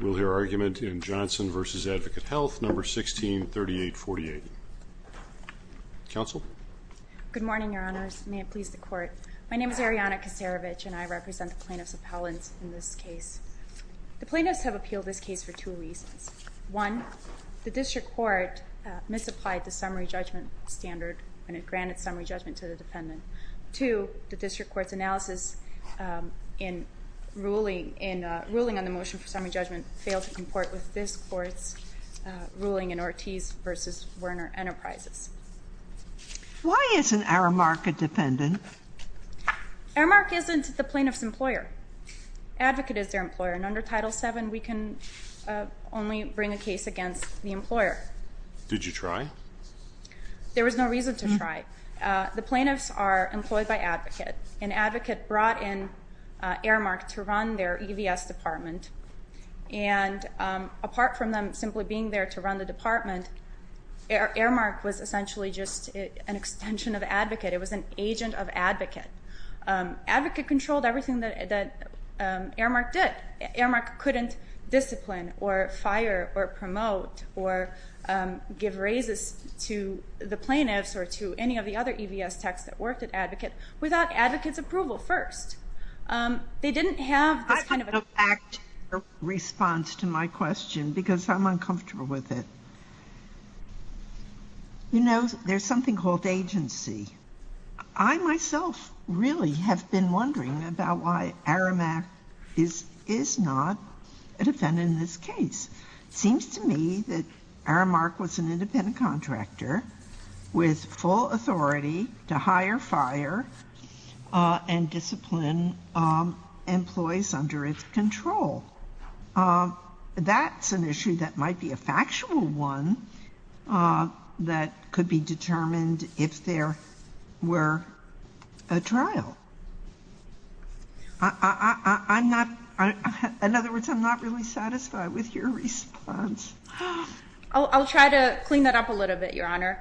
We'll hear argument in Johnson v. Advocate Health, No. 163848. Counsel? Good morning, Your Honors. May it please the Court. My name is Arianna Kasarevich, and I represent the plaintiffs' appellants in this case. The plaintiffs have appealed this case for two reasons. One, the District Court misapplied the summary judgment standard when it granted summary judgment to the defendant. Two, the District Court's analysis in ruling on the motion for summary judgment failed to comport with this Court's ruling in Ortiz v. Werner Enterprises. Why isn't Aramark a dependent? Aramark isn't the plaintiff's employer. Advocate is their employer, and under Title VII, we can only bring a case against the employer. Did you try? There was no reason to try. The plaintiffs are employed by Advocate, and Advocate brought in Aramark to run their EVS department. And apart from them simply being there to run the department, Aramark was essentially just an extension of Advocate. It was an agent of Advocate. Advocate controlled everything that Aramark did. Aramark couldn't discipline or fire or promote or give raises to the plaintiffs or to any of the other EVS techs that worked at Advocate without Advocate's approval first. They didn't have this kind of a— I have to go back to your response to my question because I'm uncomfortable with it. You know, there's something called agency. I myself really have been wondering about why Aramark is not a defendant in this case. It seems to me that Aramark was an independent contractor with full authority to hire, fire, and discipline employees under its control. That's an issue that might be a factual one that could be determined if there were a trial. In other words, I'm not really satisfied with your response. I'll try to clean that up a little bit, Your Honor.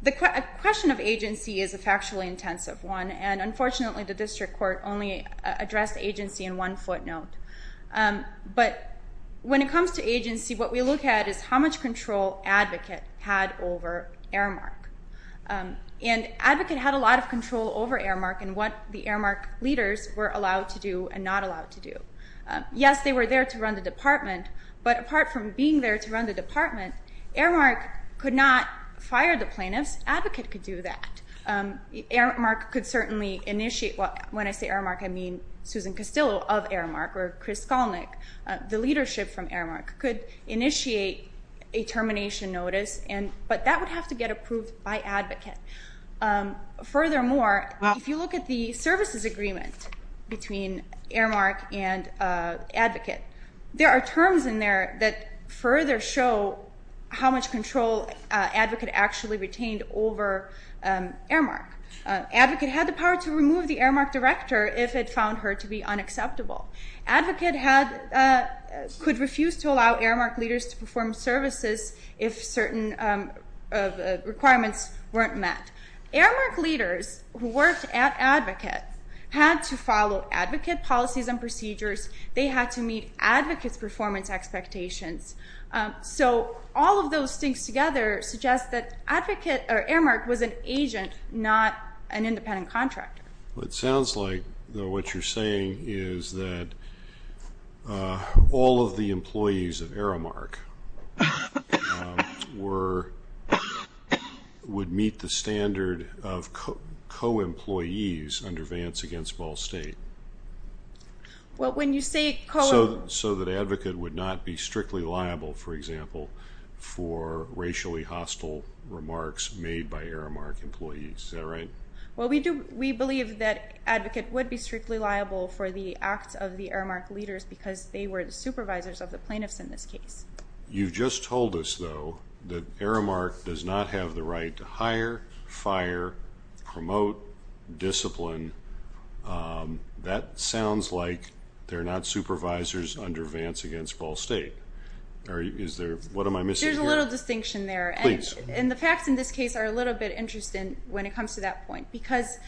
The question of agency is a factually intensive one, and unfortunately the district court only addressed agency in one footnote. But when it comes to agency, what we look at is how much control Advocate had over Aramark. And Advocate had a lot of control over Aramark and what the Aramark leaders were allowed to do and not allowed to do. Yes, they were there to run the department, but apart from being there to run the department, Aramark could not fire the plaintiffs. Advocate could do that. Aramark could certainly initiate—when I say Aramark, I mean Susan Castillo of Aramark or Chris Skolnick, the leadership from Aramark—could initiate a termination notice, but that would have to get approved by Advocate. Furthermore, if you look at the services agreement between Aramark and Advocate, there are terms in there that further show how much control Advocate actually retained over Aramark. Advocate had the power to remove the Aramark director if it found her to be unacceptable. Advocate could refuse to allow Aramark leaders to perform services if certain requirements weren't met. Aramark leaders who worked at Advocate had to follow Advocate policies and procedures. They had to meet Advocate's performance expectations. So all of those things together suggest that Aramark was an agent, not an independent contractor. It sounds like what you're saying is that all of the employees of Aramark would meet the standard of co-employees under Vance v. Ball State so that Advocate would not be strictly liable, for example, for racially hostile remarks made by Aramark employees, is that right? Well, we believe that Advocate would be strictly liable for the acts of the Aramark leaders because they were the supervisors of the plaintiffs in this case. You just told us, though, that Aramark does not have the right to hire, fire, promote, discipline. That sounds like they're not supervisors under Vance v. Ball State. What am I missing here? There's a little distinction there. Please. And the facts in this case are a little bit interesting when it comes to that point because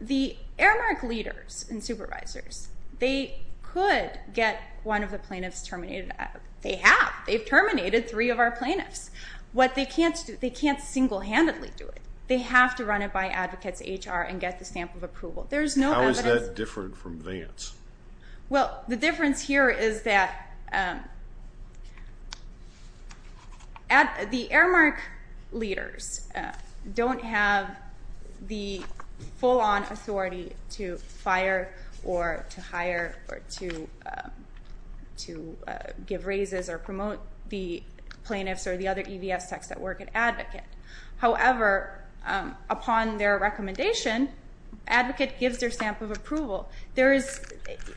the Aramark leaders and supervisors, they could get one of the plaintiffs terminated. They have. They've terminated three of our plaintiffs. What they can't do, they can't single-handedly do it. They have to run it by Advocate's HR and get the stamp of approval. There's no Advocate's... How is that different from Vance? Well, the difference here is that the Aramark leaders don't have the full-on authority to fire or to hire or to give raises or promote the plaintiffs or the other EVS techs that work at Advocate. However, upon their recommendation, Advocate gives their stamp of approval. There is...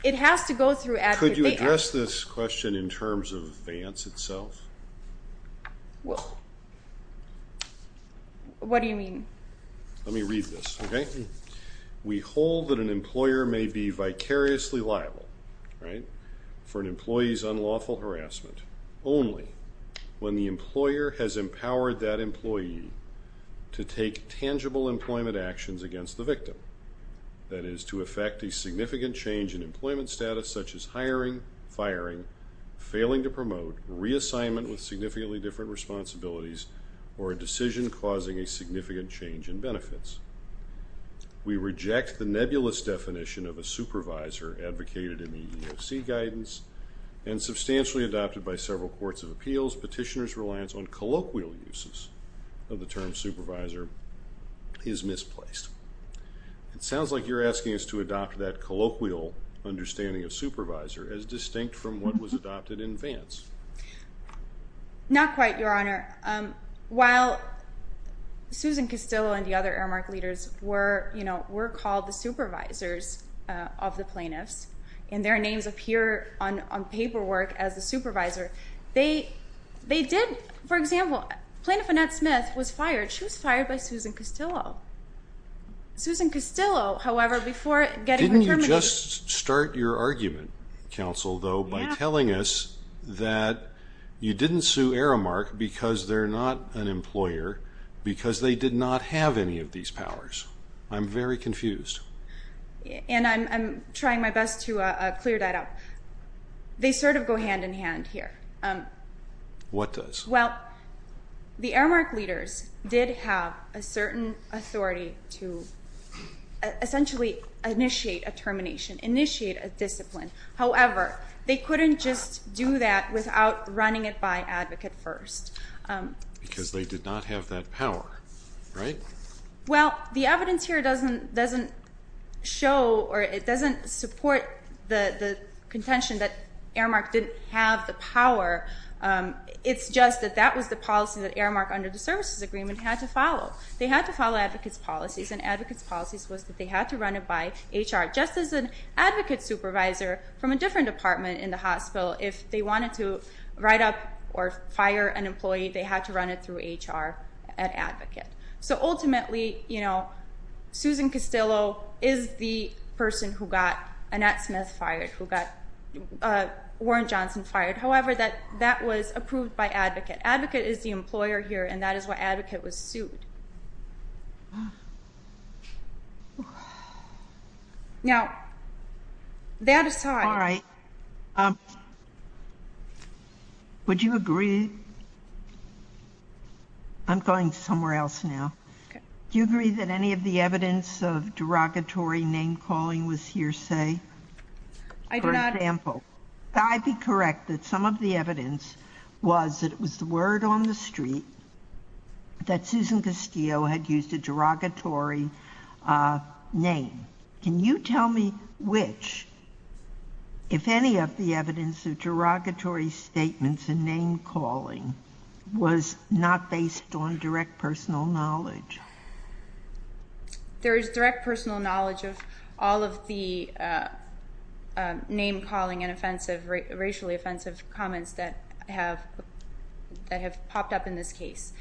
It has to go through Advocate. Could you address this question in terms of Vance itself? Well, what do you mean? Let me read this, okay? We hold that an employer may be vicariously liable for an employee's unlawful harassment only when the employer has empowered that employee to take tangible employment actions against the victim. That is, to effect a significant change in employment status such as hiring, firing, failing to promote, reassignment with significantly different responsibilities, or a decision causing a significant change in benefits. We reject the nebulous definition of a supervisor advocated in the EEOC guidance and substantially adopted by several courts of appeals, petitioner's reliance on colloquial uses of the term supervisor is misplaced. It sounds like you're asking us to adopt that colloquial understanding of supervisor as distinct from what was adopted in Vance. Not quite, Your Honor. While Susan Castillo and the other Aramark leaders were called the supervisors of the plaintiffs, and their names appear on paperwork as the supervisor, they did... For example, Plaintiff Annette Smith was fired. She was fired by Susan Castillo. Susan Castillo, however, before getting... Didn't you just start your argument, counsel, though, by telling us that you didn't sue Aramark because they're not an employer, because they did not have any of these powers? I'm very confused. And I'm trying my best to clear that up. They sort of go hand in hand here. What does? Well, the Aramark leaders did have a certain authority to essentially initiate a termination, initiate a discipline. However, they couldn't just do that without running it by advocate first. Because they did not have that power, right? Well, the evidence here doesn't show or it doesn't support the contention that Aramark didn't have the power. It's just that that was the policy that Aramark, under the services agreement, had to follow. They had to follow advocates' policies, and advocates' policies was that they had to run it by HR. Just as an advocate supervisor from a different department in the hospital, if they wanted to write up or fire an employee, they had to run it through HR at advocate. So ultimately, Susan Castillo is the person who got Annette Smith fired, who got Warren Johnson fired. However, that was approved by advocate. Advocate is the employer here, and that is why advocate was sued. Now, that aside. All right. Would you agree? I'm going somewhere else now. Do you agree that any of the evidence of derogatory name calling was hearsay? I do not. For example. I'd be correct that some of the evidence was that it was the word on the street that Susan Castillo had used a derogatory name. Can you tell me which, if any, of the evidence of derogatory statements and name calling was not based on direct personal knowledge? There is direct personal knowledge of all of the name calling and racially offensive comments that have popped up in this case.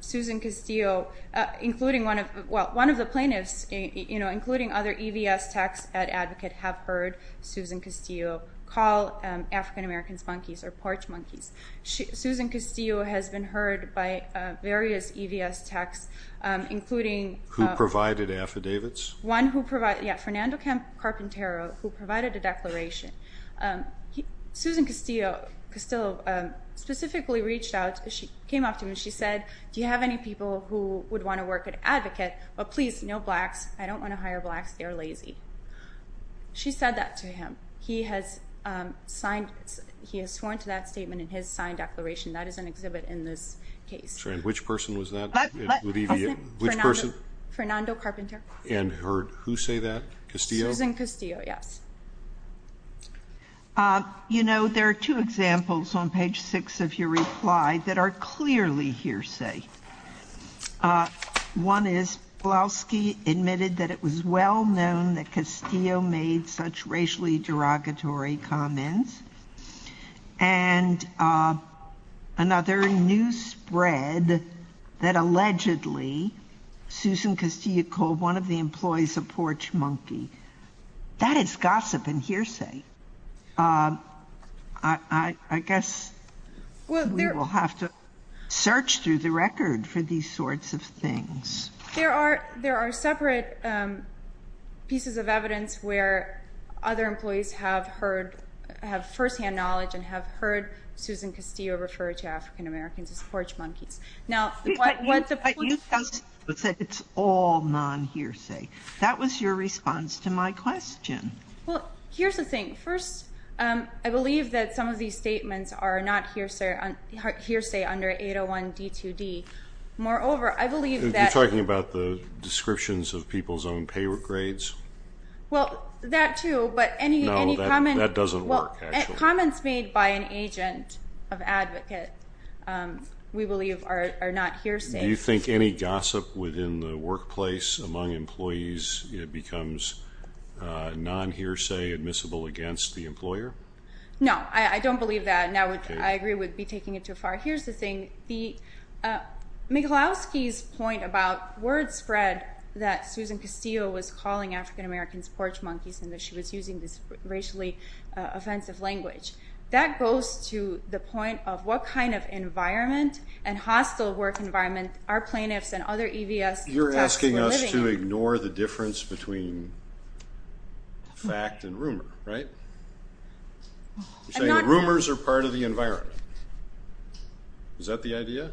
Susan Castillo, including one of the plaintiffs, including other EVS techs at advocate have heard Susan Castillo call African Americans monkeys or porch monkeys. Susan Castillo has been heard by various EVS techs, including. Who provided affidavits? Yeah. Fernando Carpintero, who provided a declaration. Susan Castillo specifically reached out. She came up to him and she said, Do you have any people who would want to work at advocate? But please, no blacks. I don't want to hire blacks. They're lazy. She said that to him. He has signed. He has sworn to that statement in his signed declaration. That is an exhibit in this case. And which person was that? Which person? Fernando Carpintero. And who say that? Castillo? Susan Castillo. Yes. You know, there are two examples on page six of your reply that are clearly hearsay. One is Pulaski admitted that it was well known that Castillo made such racially derogatory comments. And another news spread that allegedly Susan Castillo called one of the employees a porch monkey. That is gossip and hearsay. I guess we will have to search through the record for these sorts of things. There are separate pieces of evidence where other employees have first-hand knowledge and have heard Susan Castillo refer to African-Americans as porch monkeys. But you said it's all non-hearsay. That was your response to my question. Well, here's the thing. First, I believe that some of these statements are not hearsay under 801 D2D. Moreover, I believe that... You're talking about the descriptions of people's own pay grades? Well, that too, but any comment... No, that doesn't work, actually. Comments made by an agent of advocate, we believe, are not hearsay. Do you think any gossip within the workplace among employees becomes non-hearsay, admissible against the employer? No, I don't believe that, and I agree with taking it too far. Here's the thing. Michalowski's point about word spread that Susan Castillo was calling African-Americans porch monkeys and that she was using this racially offensive language, that goes to the point of what kind of environment and hostile work environment our plaintiffs and other EVS contacts were living in. You're asking us to ignore the difference between fact and rumor, right? You're saying that rumors are part of the environment. Is that the idea?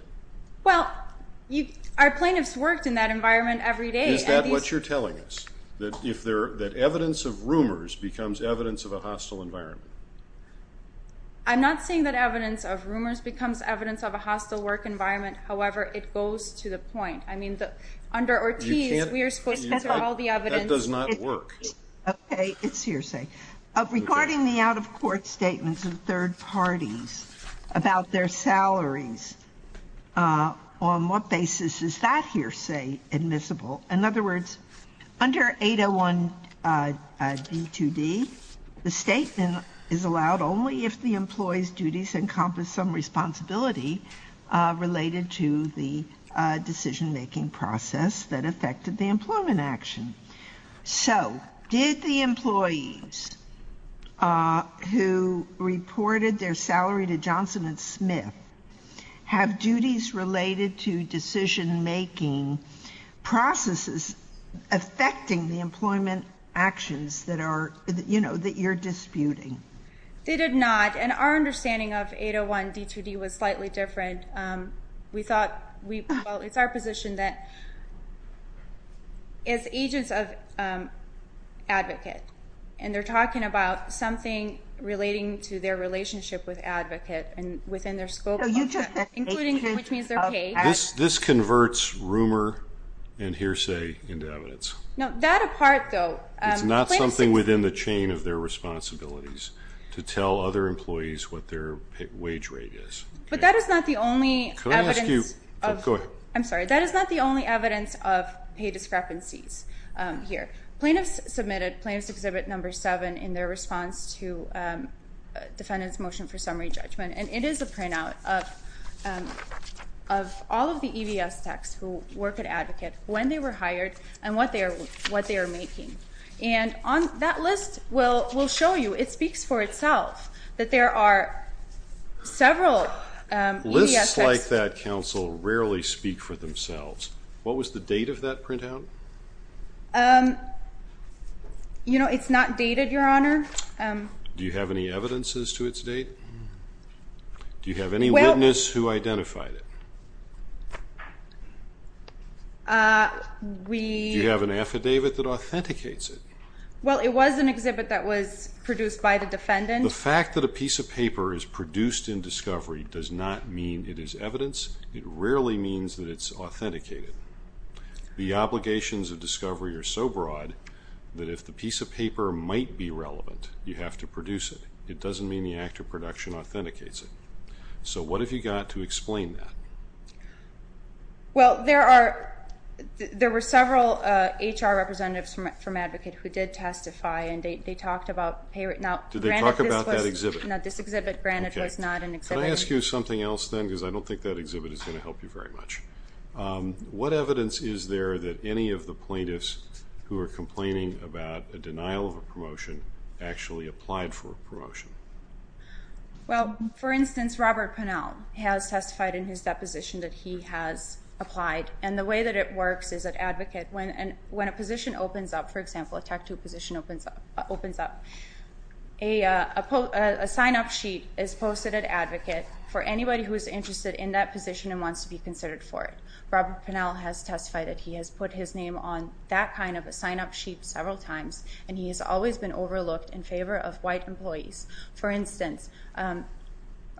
Well, our plaintiffs worked in that environment every day. Is that what you're telling us, that evidence of rumors becomes evidence of a hostile environment? I'm not saying that evidence of rumors becomes evidence of a hostile work environment. However, it goes to the point. I mean, under Ortiz, we are supposed to consider all the evidence. That does not work. Okay, it's hearsay. Regarding the out-of-court statements of third parties about their salaries, on what basis is that hearsay admissible? In other words, under 801 D2D, the statement is allowed only if the employee's duties encompass some responsibility related to the decision-making process that affected the employment action. So, did the employees who reported their salary to Johnson & Smith have duties related to decision-making processes affecting the employment actions that you're disputing? They did not, and our understanding of 801 D2D was slightly different. We thought, well, it's our position that it's agents of advocate, and they're talking about something relating to their relationship with advocate and within their scope, including which means their pay. This converts rumor and hearsay into evidence. No, that apart, though. It's not something within the chain of their responsibilities to tell other employees what their wage rate is. But that is not the only evidence. I'm sorry, that is not the only evidence of pay discrepancies here. Plaintiffs submitted Plaintiff's Exhibit No. 7 in their response to And it is a printout of all of the EDS techs who work at Advocate, when they were hired, and what they are making. And that list will show you, it speaks for itself, that there are several EDS techs. Lists like that, counsel, rarely speak for themselves. What was the date of that printout? You know, it's not dated, Your Honor. Do you have any evidence as to its date? Do you have any witness who identified it? Do you have an affidavit that authenticates it? Well, it was an exhibit that was produced by the defendant. The fact that a piece of paper is produced in discovery does not mean it is evidence. It rarely means that it's authenticated. The obligations of discovery are so broad that if the piece of paper might be relevant, you have to produce it. It doesn't mean the act of production authenticates it. So what have you got to explain that? Well, there were several HR representatives from Advocate who did testify and they talked about pay... Did they talk about that exhibit? No, this exhibit, granted, was not an exhibit. Can I ask you something else then? Because I don't think that exhibit is going to help you very much. What evidence is there that any of the plaintiffs who are complaining about a denial of a promotion actually applied for a promotion? Well, for instance, Robert Pinnell has testified in his deposition that he has applied. And the way that it works is at Advocate, when a position opens up, for example, a Tech II position opens up, a sign-up sheet is posted at Advocate for anybody who is interested in that position and wants to be considered for it. Robert Pinnell has testified that he has put his name on that kind of a sign-up sheet several times and he has always been overlooked in favor of white employees. For instance,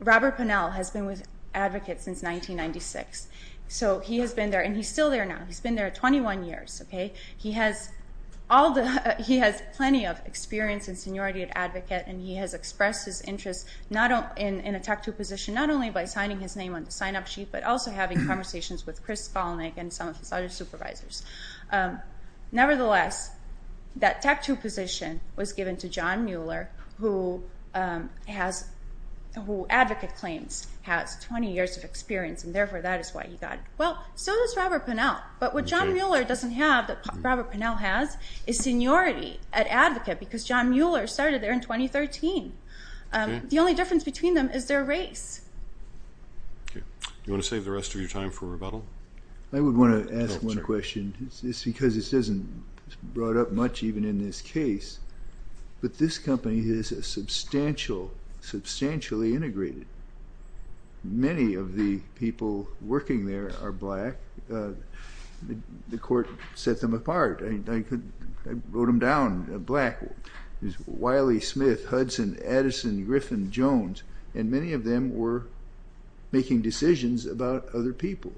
Robert Pinnell has been with Advocate since 1996. So he has been there, and he's still there now. He's been there 21 years. He has plenty of experience in seniority at Advocate and he has expressed his interest in a Tech II position not only by signing his name on the sign-up sheet but also having conversations with Chris Skolnick and some of his other supervisors. Nevertheless, that Tech II position was given to John Mueller who Advocate claims has 20 years of experience and therefore that is why he got it. Well, so does Robert Pinnell. But what John Mueller doesn't have that Robert Pinnell has is seniority at Advocate because John Mueller started there in 2013. The only difference between them is their race. Do you want to save the rest of your time for rebuttal? I would want to ask one question. It's because this isn't brought up much even in this case but this company is substantially integrated. Many of the people working there are black. The court set them apart. I wrote them down, black. Wiley, Smith, Hudson, Addison, Griffin, Jones and many of them were making decisions about other people.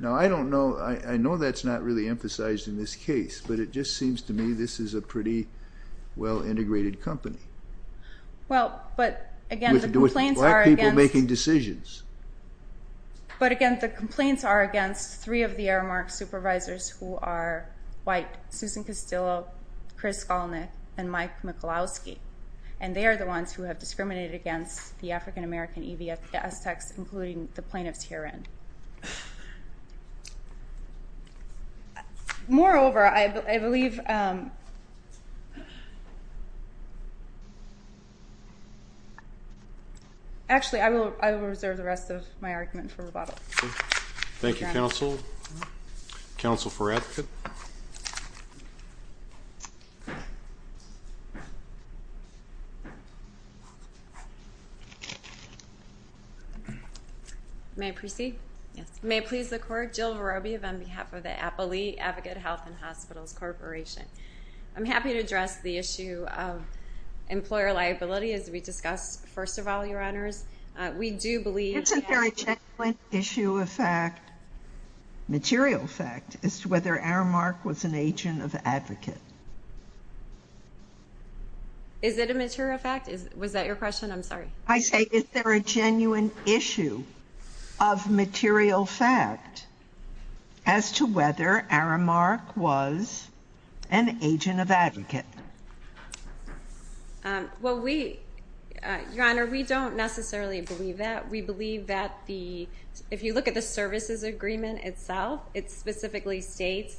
Now I don't know, I know that's not really emphasized in this case but it just seems to me this is a pretty well-integrated company. Well, but again the complaints are against With black people making decisions. But again the complaints are against three of the Aramark supervisors who are white. Susan Castillo, Chris Skolnick, and Mike Michalowski. And they are the ones who have discriminated against the African-American EBS techs including the plaintiffs herein. Moreover, I believe Actually, I will reserve the rest of my argument for rebuttal. Thank you, counsel. Counsel for advocate. May I proceed? Yes. May it please the court, Jill Vorobiev on behalf of the Applee Advocate Health and Hospitals Corporation. I'm happy to address the issue of employer liability as we discussed first of all, your honors. We do believe Is there a genuine issue of fact, material fact, as to whether Aramark was an agent of advocate? Is it a material fact? Was that your question? I'm sorry. I say, is there a genuine issue of material fact as to whether Aramark was an agent of advocate? Well, we, your honor, we don't necessarily believe that. We believe that the, if you look at the services agreement itself, it specifically states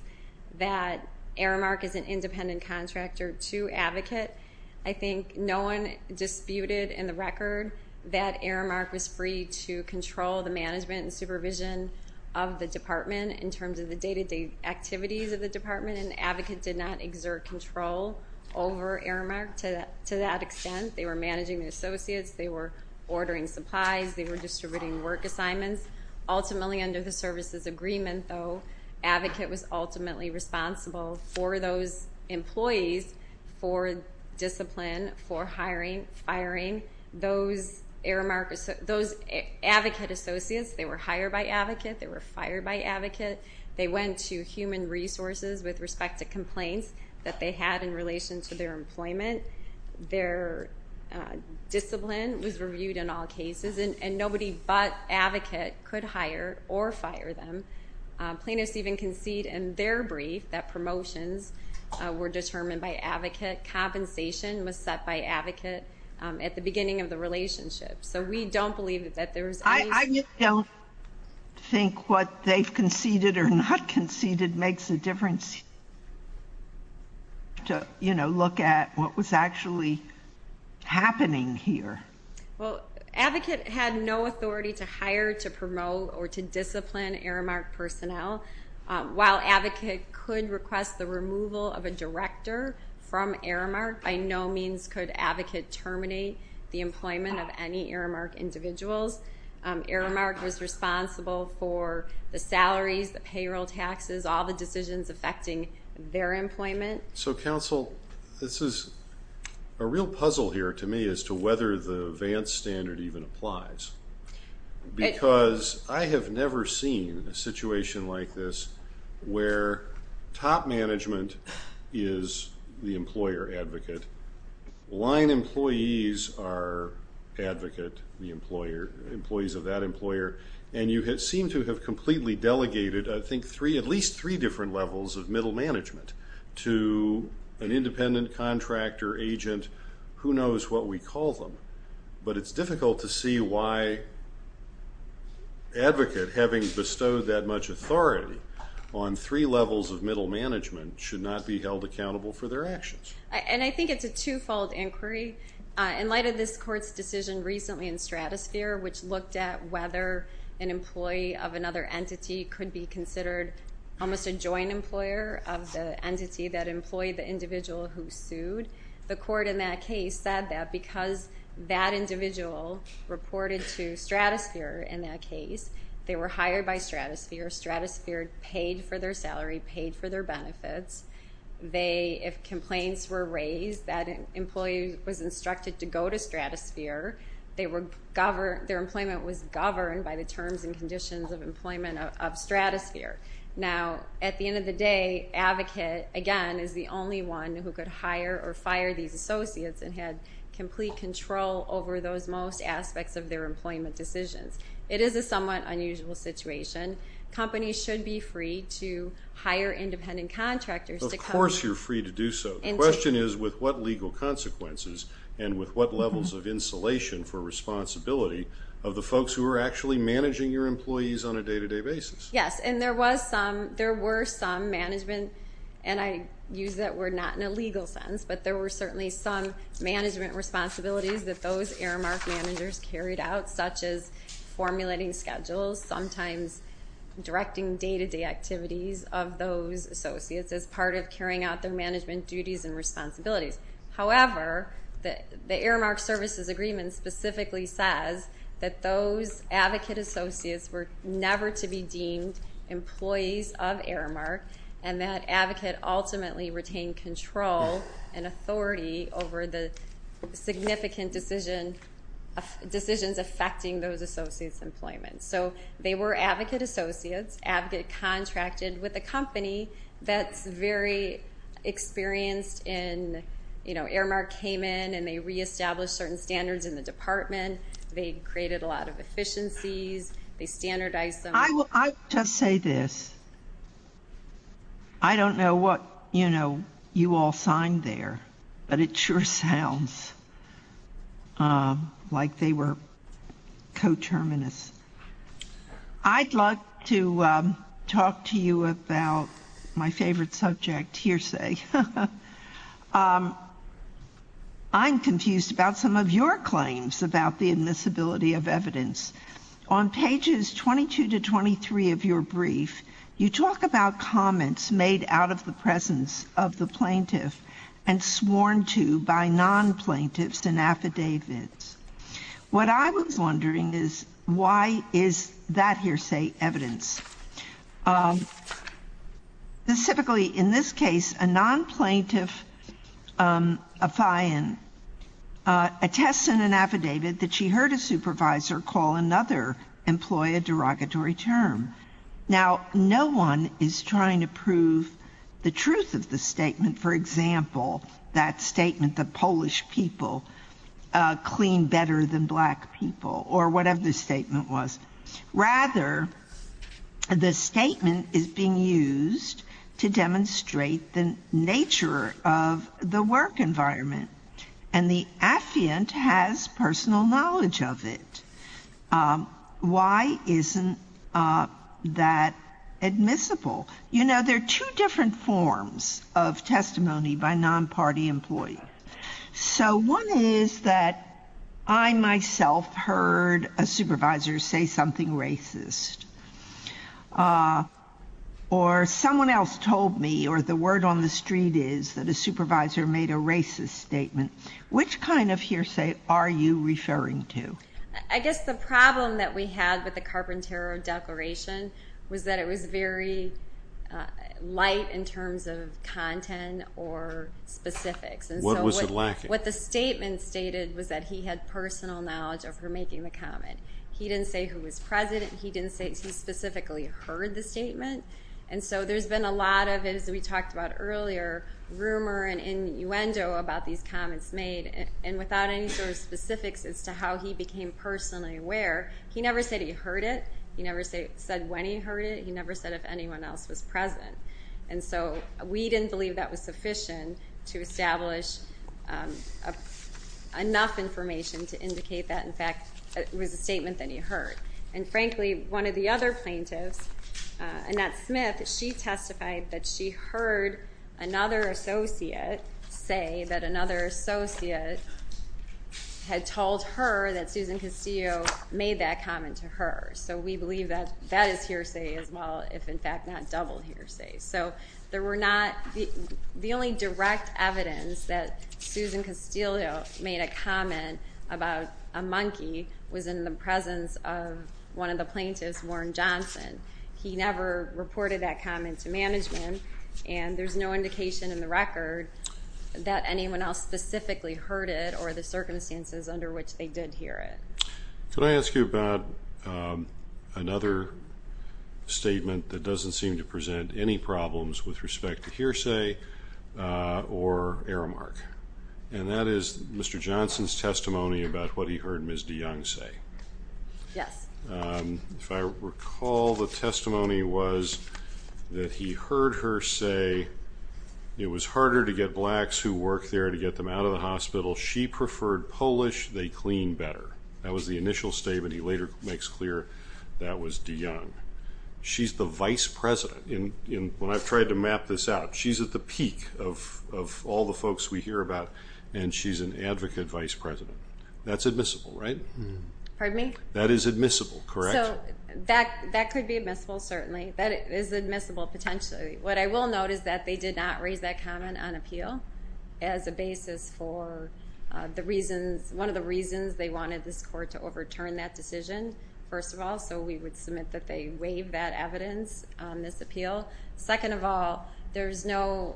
that Aramark is an independent contractor to advocate. I think no one disputed in the record that Aramark was free to control the management and supervision of the department in terms of the day-to-day activities of the department and advocate did not exert control over Aramark to that extent. They were managing the associates. They were ordering supplies. They were distributing work assignments. Ultimately, under the services agreement though, advocate was ultimately responsible for those employees for discipline, for hiring, firing. Those Aramark, those advocate associates, they were hired by advocate. They were fired by advocate. They went to human resources with respect to complaints that they had in relation to their employment. Their discipline was reviewed in all cases and nobody but advocate could hire or fire them. Plaintiffs even concede in their brief that promotions were determined by advocate. Compensation was set by advocate at the beginning of the relationship. So we don't believe that there was any... I just don't think what they've conceded or not conceded makes a difference to look at what was actually happening here. Well, advocate had no authority to hire, to promote, or to discipline Aramark personnel. While advocate could request the removal of a director from Aramark, by no means could advocate terminate the employment of any Aramark individuals. Aramark was responsible for the salaries, the payroll taxes, all the decisions affecting their employment. So counsel, this is a real puzzle here to me as to whether the Vance standard even applies. Because I have never seen a situation like this where top management is the employer advocate, line employees are advocate, the employees of that employer, and you seem to have completely delegated at least three different levels of middle management to an independent contractor, agent, who knows what we call them. But it's difficult to see why advocate, having bestowed that much authority on three levels of middle management, should not be held accountable for their actions. And I think it's a two-fold inquiry. In light of this court's decision recently in Stratosphere, which looked at whether an employee of another entity could be considered almost a joint employer of the entity that employed the individual who sued, the court in that case said that because that individual reported to Stratosphere in that case, they were hired by Stratosphere, Stratosphere paid for their salary, paid for their benefits. If complaints were raised that an employee was instructed to go to Stratosphere, their employment was governed by the terms and conditions of employment of Stratosphere. Now, at the end of the day, the advocate, again, is the only one who could hire or fire these associates and had complete control over those most aspects of their employment decisions. It is a somewhat unusual situation. Companies should be free to hire independent contractors to come... Of course you're free to do so. The question is, with what legal consequences and with what levels of insulation for responsibility of the folks who are actually managing your employees on a day-to-day basis. Yes, and there was some... And I use that word not in a legal sense, but there were certainly some management responsibilities that those Aramark managers carried out, such as formulating schedules, sometimes directing day-to-day activities of those associates as part of carrying out their management duties and responsibilities. However, the Aramark Services Agreement specifically says that those advocate associates were never to be deemed employees of Aramark and that advocate ultimately retained control and authority over the significant decision... decisions affecting those associates' employment. So they were advocate associates, advocate contracted with a company that's very experienced in... You know, Aramark came in and they reestablished certain standards in the department, they created a lot of efficiencies, they standardized them... I will... I will just say this. I don't know what, you know, you all signed there, but it sure sounds, um, like they were coterminous. I'd like to, um, talk to you about my favorite subject, hearsay. Um, I'm confused about some of your claims about the admissibility of evidence. On pages 22 to 23 of your brief, you talk about comments made out of the presence of the plaintiff and sworn to by non-plaintiffs and affidavits. What I was wondering is, why is that hearsay evidence? Um, specifically in this case, a non-plaintiff, um, affion, uh, attests in an affidavit that she heard a supervisor call another employee a derogatory term. Now, no one is trying to prove the truth of the statement. For example, that statement that Polish people, uh, clean better than black people or whatever the statement was. Rather, the statement is being used to demonstrate the nature of the work environment. And the affiant has personal knowledge of it. Um, why isn't, uh, that admissible? You know, there are two different forms of testimony by non-party employees. So one is that I myself heard a supervisor say something racist. Uh, or someone else told me, or the word on the street is that a supervisor made a racist statement. Which kind of hearsay are you referring to? I guess the problem that we had with the Carpintero Declaration was that it was very, uh, light in terms of content or specifics. What was it lacking? What the statement stated was that he had personal knowledge of her making the comment. He didn't say who was president. He didn't say he specifically heard the statement. And so there's been a lot of, as we talked about earlier, rumor and innuendo about these comments made. And without any sort of specifics as to how he became personally aware, he never said he heard it. He never said when he heard it. He never said if anyone else was president. And so we didn't believe that was sufficient to establish, um, enough information to indicate that, in fact, it was a statement that he heard. And frankly, one of the other plaintiffs, uh, Annette Smith, she testified that she heard another associate say that another associate had told her that Susan Castillo made that comment to her. So we believe that that is hearsay as well, if in fact not double hearsay. So there were not... The only direct evidence that Susan Castillo made a comment about a monkey was in the presence of one of the plaintiffs, Warren Johnson. He never reported that comment to management, and there's no indication in the record that anyone else specifically heard it or the circumstances under which they did hear it. Can I ask you about, um, another statement that doesn't seem to present any problems with respect to hearsay, uh, or aramark? And that is Mr. Johnson's testimony about what he heard Ms. DeYoung say. Yes. Um, if I recall, the testimony was that he heard her say it was harder to get Blacks who worked there to get them out of the hospital. She preferred Polish. They clean better. That was the initial statement. He later makes clear that was DeYoung. She's the vice president. And when I've tried to map this out, she's at the peak of all the folks we hear about, and she's an advocate vice president. That's admissible, right? Pardon me? That is admissible, correct? So, that- that could be admissible, certainly. That is admissible, potentially. What I will note is that they did not raise that comment on appeal as a basis for, uh, the reasons- one of the reasons they wanted this court to overturn that decision, first of all, so we would submit that they waived that evidence on this appeal. Second of all, there's no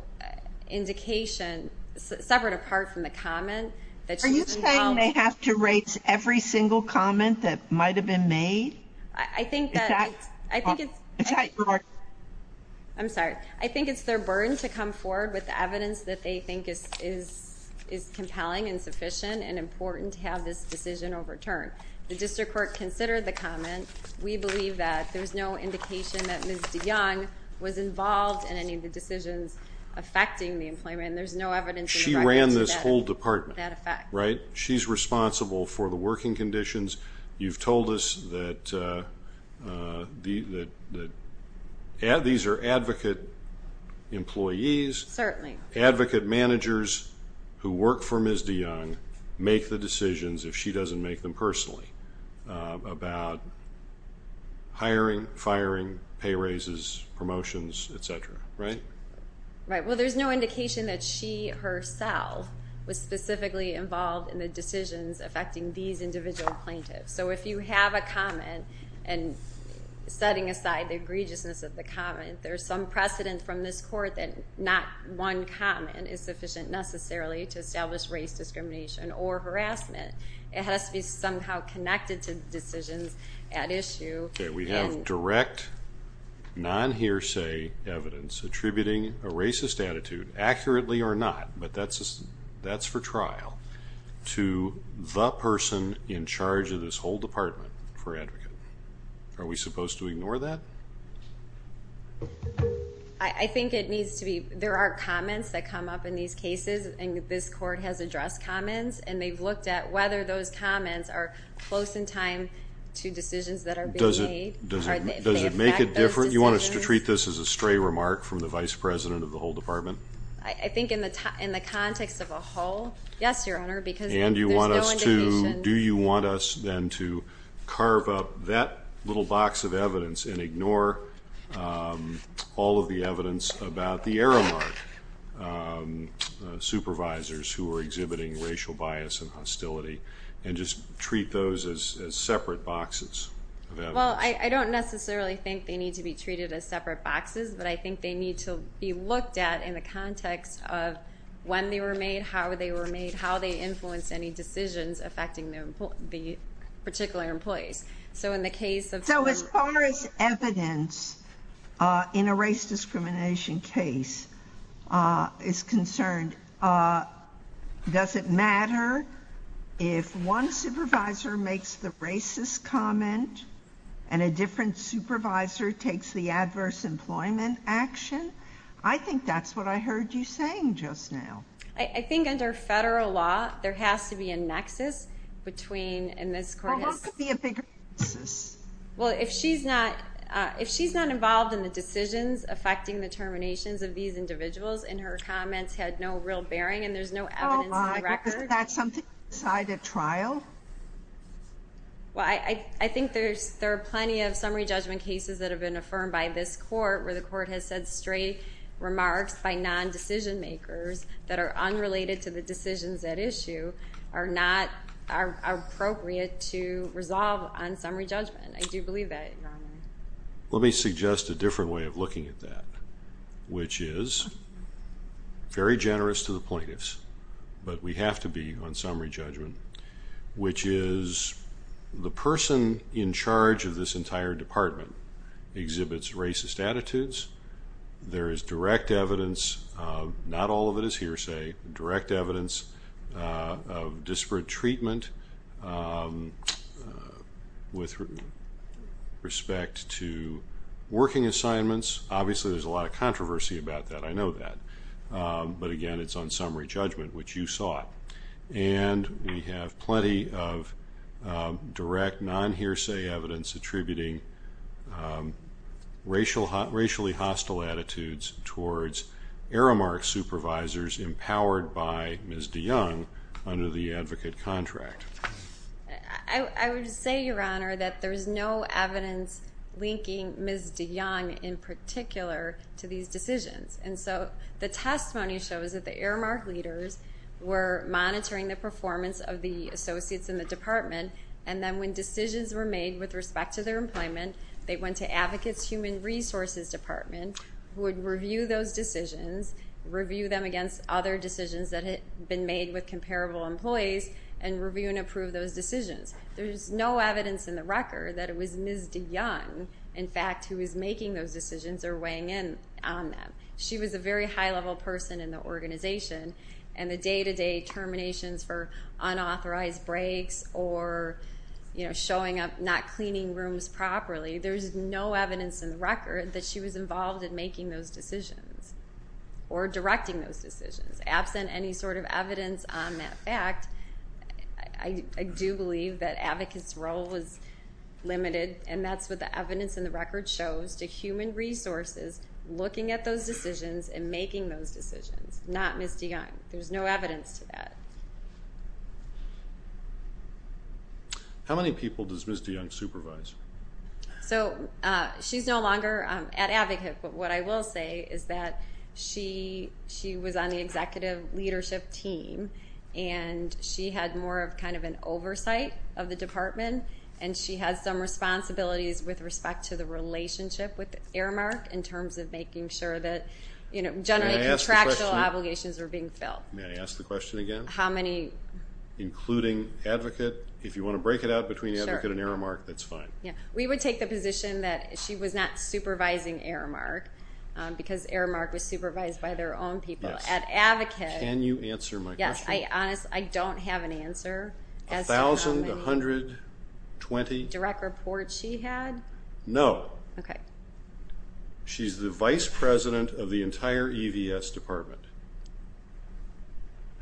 indication separate apart from the comment that she's involved- Are you saying they have to raise every single comment that might have been made? I- I think that- Is that- I think it's- Is that your- I'm sorry. I think it's their burden to come forward with evidence that they think is- is- is compelling and sufficient and important to have this decision overturned. The district court considered the comment. We believe that there's no indication that Ms. DeYoung was involved in any of the decisions affecting the employment and there's no evidence in the record to that- She ran this whole department, right? She's responsible for the working conditions. You've told us that, uh, uh, the- the- ad- these are advocate employees. Certainly. Advocate managers who work for Ms. DeYoung make the decisions if she doesn't make them personally, uh, about hiring, firing, pay raises, promotions, et cetera, right? Right. Well, there's no indication that she herself was specifically involved in the decisions affecting these individual plaintiffs. So if you have a comment and setting aside the egregiousness of the comment, there's some precedent from this court that not one comment is sufficient necessarily to establish race discrimination or harassment. It has to be somehow connected to the decisions at issue and- Okay, we have direct non-hearsay evidence attributing a racist attitude accurately or not but that's- that's for trial to the person in charge of this whole department for advocate. Are we supposed to ignore that? I- I think it needs to be- there are comments that come up in these cases and this court has addressed comments and they've looked at whether those comments are close in time to decisions that are being made. Does it- Does it- Does it make it different? You want us to treat this as a stray remark from the vice president of the whole department? I- I think in the context of a whole- Yes, your honor because there's no indication- And you want us to- Do you want us then to carve up that little box of evidence and ignore all of the evidence about the Aramark supervisors who are exhibiting racial bias and hostility and just treat those as separate boxes of evidence? Well, I- I don't necessarily think they need to be treated as separate boxes but I think they need to be looked at in the context of when they were made, how they were made, how they influenced any decisions affecting their emplo- the particular employees. So in the case of- So as far as evidence in a race discrimination case if one supervisor makes the racist comment and a different supervisor takes the adverse employment action? I think that's what we need to do and I think that's what I heard you saying just now. I- I think under federal law there has to be a nexus between and this court has- Well, what could be a bigger nexus? Well, if she's not- if she's not involved in the decisions affecting the terminations of these individuals and her comments had no real bearing and there's no evidence in the record- Oh my, isn't that something to decide at trial? Well, I- I think there's- there are plenty of summary judgment cases that have been affirmed by this court where the court has said straight remarks by non-decision makers that are unrelated to the decisions at issue are not- are appropriate to resolve on summary judgment. I do believe that, Your Honor. Let me suggest a different way of looking at that which is very generous to the plaintiffs but we have to be on summary judgment which is the person in charge of this entire department exhibits racist attitudes there is direct evidence not all of it is hearsay direct evidence of disparate treatment with respect to working assignments obviously there's a lot of controversy about that I know that but again it's on summary judgment which you saw and we have plenty of direct non-hearsay evidence attributing racial racially hostile attitudes towards Aramark supervisors empowered by Ms. DeYoung under the advocate contract I would say Your Honor that there's no evidence linking Ms. DeYoung in particular to these decisions and so the testimony shows that the Aramark leaders were monitoring the performance of the associates in the department and then when decisions were made with respect to their employment they went to advocates human resources department would review those decisions review them against other decisions that had been made with comparable employees and review and approve those decisions there's no evidence in the record that it was Ms. DeYoung in fact who was making those decisions or weighing in on them she was a very high level person in the organization and the day to day terminations for unauthorized breaks or you know showing up not cleaning rooms properly there's no evidence in the record that she was involved in making those decisions or directing those decisions absent any sort of evidence on that fact I do believe that advocates role was limited and that's what the evidence in the record shows to human resources looking at those decisions and making those decisions not Ms. DeYoung there's no evidence to that how many people does Ms. DeYoung supervise so she's no longer an advocate but what I will say is that she she was on the executive leadership team and she had more of kind of an oversight of the department and she had some responsibilities with respect to the relationship with Aramark in terms of making sure that generally contractual obligations were being filled may I ask the question again how many including advocate if you want to break it out between advocate and Aramark that's fine we would take the position that she was not supervising Aramark because Aramark was supervised by their own people can you answer my question I don't have an answer a thousand a hundred twenty direct reports she had no she's the vice president of the entire EVS department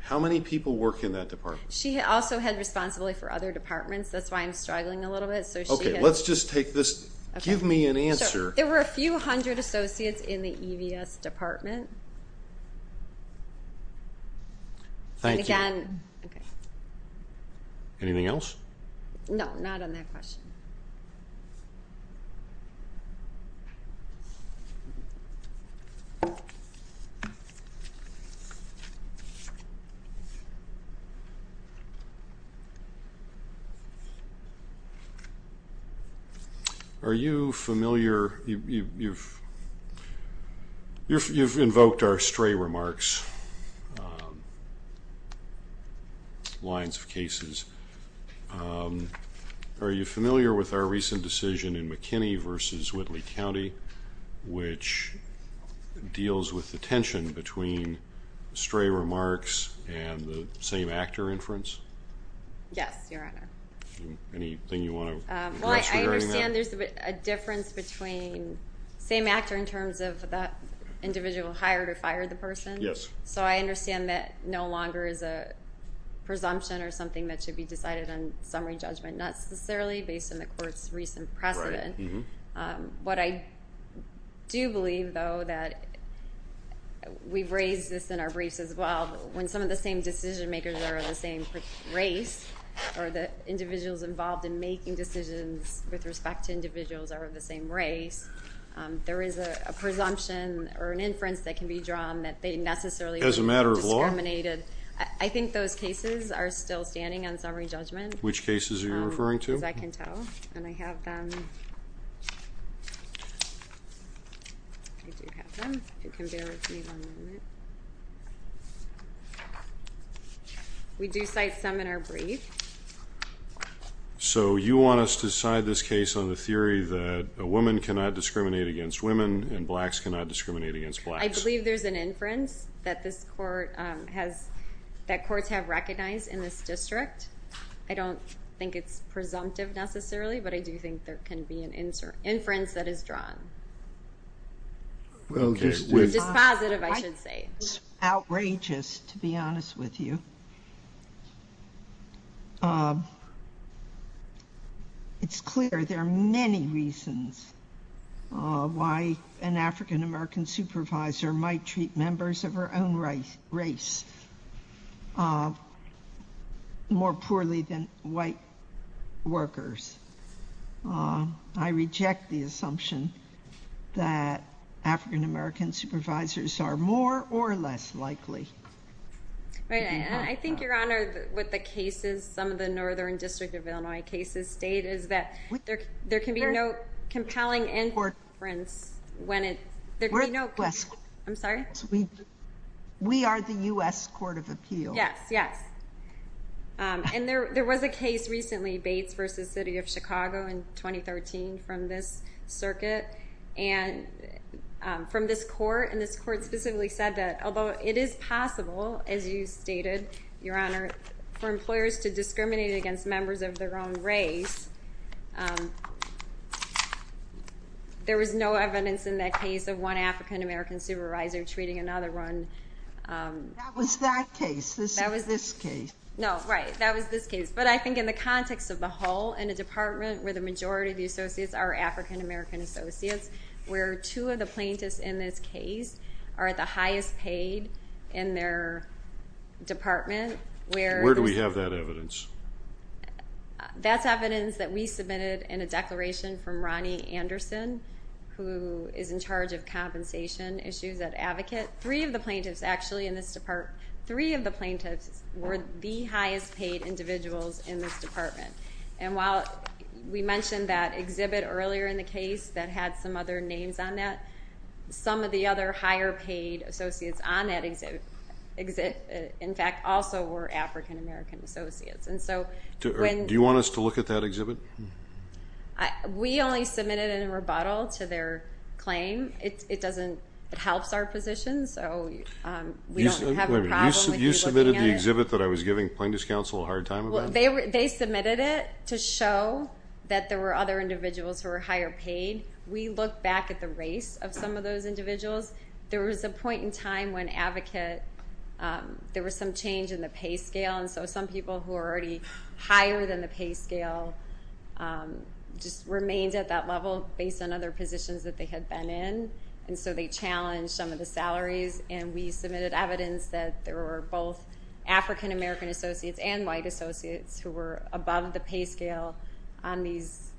how many people work in that department she also had responsibility for other departments that's why I'm struggling a little bit so she okay let's just take this give me an answer there were a few hundred associates in the EVS department thank you and okay anything else no not on that question are you familiar you've you've invoked our stray remarks lines of cases are you familiar with our recent decision in McKinney vs. Whitley County which deals with the tension between stray remarks and the same actor inference yes your honor anything you want to answer I understand there's a difference between same actor in terms of that individual hired or fired the person so I understand that no longer is a presumption or something that should be decided on summary judgment not necessarily based on the court's recent precedent what I do believe though that we've raised this in our briefs as well when some of the same decision makers are of the same race or the individuals involved in making decisions with respect to individuals are of the same race there is a presumption or an inference that can be drawn that they necessarily would be discriminated I think those cases are still standing on summary judgment which cases are you referring to as I can tell and I have them I do have them can bear with me one minute we do cite some in our brief so you want us to decide this case on the theory that a woman cannot discriminate against women and blacks cannot discriminate against blacks I believe there's an inference that this court has that courts have recognized in this district I don't think it's presumptive necessarily but I do think there can be an inference that is drawn it's positive I should say outrageous to be honest with you it's clear there are many reasons why an African American supervisor might treat members of her own race more poorly than white workers I reject the assumption that African American supervisors are more or less likely to be wrong I think your honor with the cases some of the northern district of Illinois cases state is that there can be no compelling inference I'm sorry we are the US court of appeals yes and there was a case recently Bates vs. City of Chicago in 2013 from this court and this court specifically said that although it is possible as you stated your honor for employers to discriminate against members of their own race there was no evidence in that case of one African American supervisor treating another one that was that case that was this case no right that was this case but I think in the context of the whole in a department where the majority of the associates are African American associates where two of the plaintiffs in this case are at the highest paid in their department where where do we have that evidence that's evidence that we submitted in a declaration from Ronnie Anderson who is in charge of compensation issues that advocate three of the plaintiffs actually in this department three of the plaintiffs were the highest paid individuals in this department and while we mentioned that exhibit earlier in the case that had some other names on that some of the other higher paid associates on that exhibit in fact also were African American associates and so do you want us to look at that exhibit? We only submitted it in rebuttal to their claim it doesn't it helps our position so we don't have a problem with you looking at it. You submitted the exhibit that I was giving plaintiffs counsel a hard time about? They submitted it to show that there were other individuals who were higher paid. We look back at the race of some of those individuals there was a point in time when advocate there was some change in the pay scale and so some people who were already higher than the pay scale just remained at that level based on other positions that they had been in and so they challenged some of the salaries and we submitted evidence that there were both African-American associates and white associates who were above the pay scale in these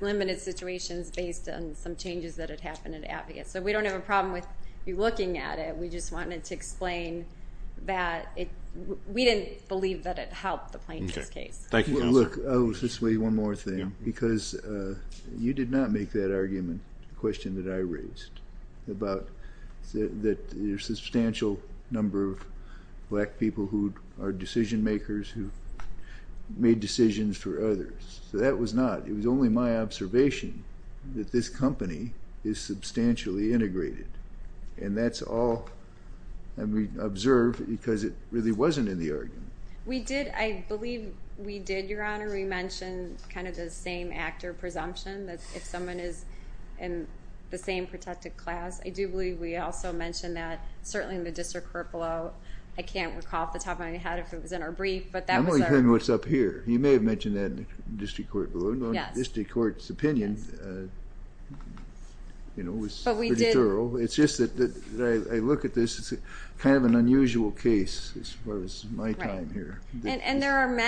limited situations based on some changes that had happened in advocates so we don't have a problem with you looking at it we just wanted to explain that we didn't believe that it helped the plaintiff's case. Thank you. I'll just say one more thing because you did not make that argument the question that I raised about the substantial number of black people who are decision makers and I don't think that that was a good argument but I don't think that it was a good argument but I don't think that it was a good argument but I don't that it was a argument but your time and thank you for the opportunity to be here with you and thank you. Thank you. Thank you for Courtesy of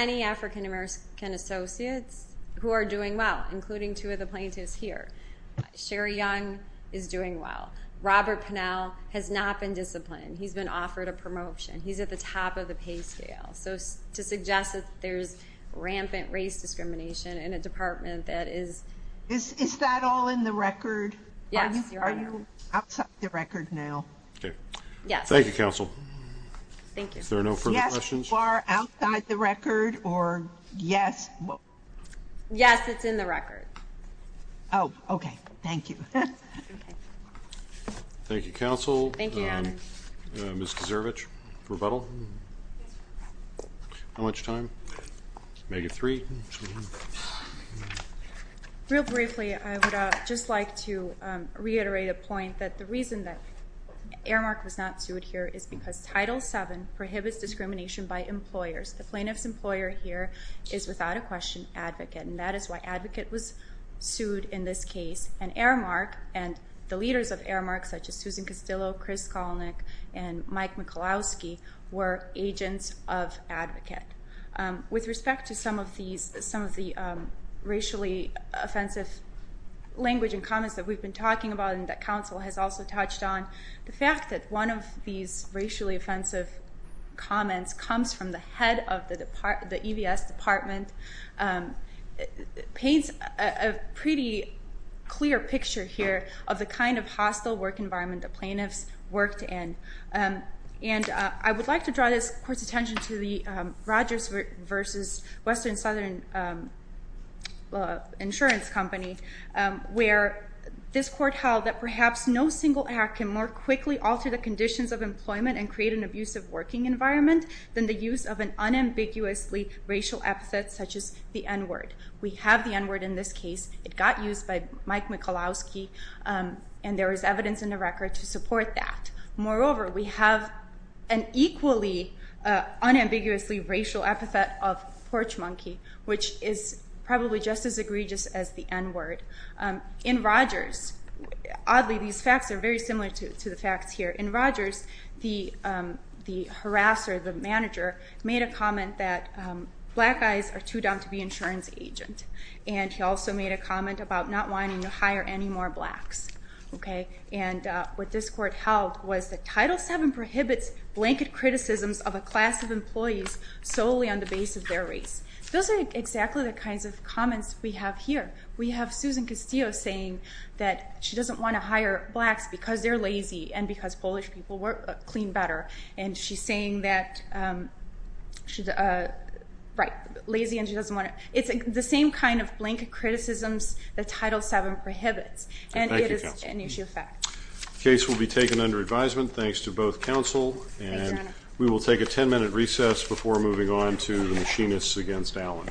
the plaintiff here. Sherry Young is doing well. Robert Pannel has been disciplined. He's offered a promotion. He's on top of pay scales. To suggest there is rampant race discrimination in the department. Is that all in the record? Are you outside the record now? Yes. Thank you counsel. Is there no further questions? Yes, it's in the record. Oh, okay, thank you. Thank you counsel. Ms. Kaczerwicz, rebuttal? How much time? Make it three. Real briefly, I would just like to reiterate a point that the reason that Aramark was not sued here is because Title 7 prohibits discrimination by employers. The plaintiff's employer here is without a question advocate. And that is why advocate was sued in this case. And Aramark and the leaders of Aramark such as language and comments that we've been talking about and that counsel has also touched on the fact that one of these racially offensive comments comes from the head of the EVS department paints a pretty clear picture here of the kind of hostile work environment the plaintiffs worked in. And I would like to draw this court's attention to the Rogers versus Western Southern insurance company where this court held that perhaps no single act can more quickly alter the conditions of employment and create an abusive working environment than the use of an unambiguously equally unambiguously racial epithet of porch monkey which is probably just as egregious as the N word. In Rogers oddly these facts are very similar to the facts here. In Rogers the harasser, the manager made a comment that black guys are too down to be insurance agent. And he also made a comment about not wanting to hire any more blacks. Okay. And what this court held was that Title 7 prohibits blanket criticisms of a class of employees solely on the base of their race. Those are exactly the kinds of comments we have here. We have Susan Castillo saying that she doesn't want to hire blacks because they're lazy and because Polish people clean better. And she's saying that she's right. Lazy and she doesn't want to. It's the same kind of blanket criticisms that Title 7 prohibits. And it is an issue of fact. The case will be taken under advisement thanks to both counsel and we will take a 10 minute recess before moving on to the machinists against Allen.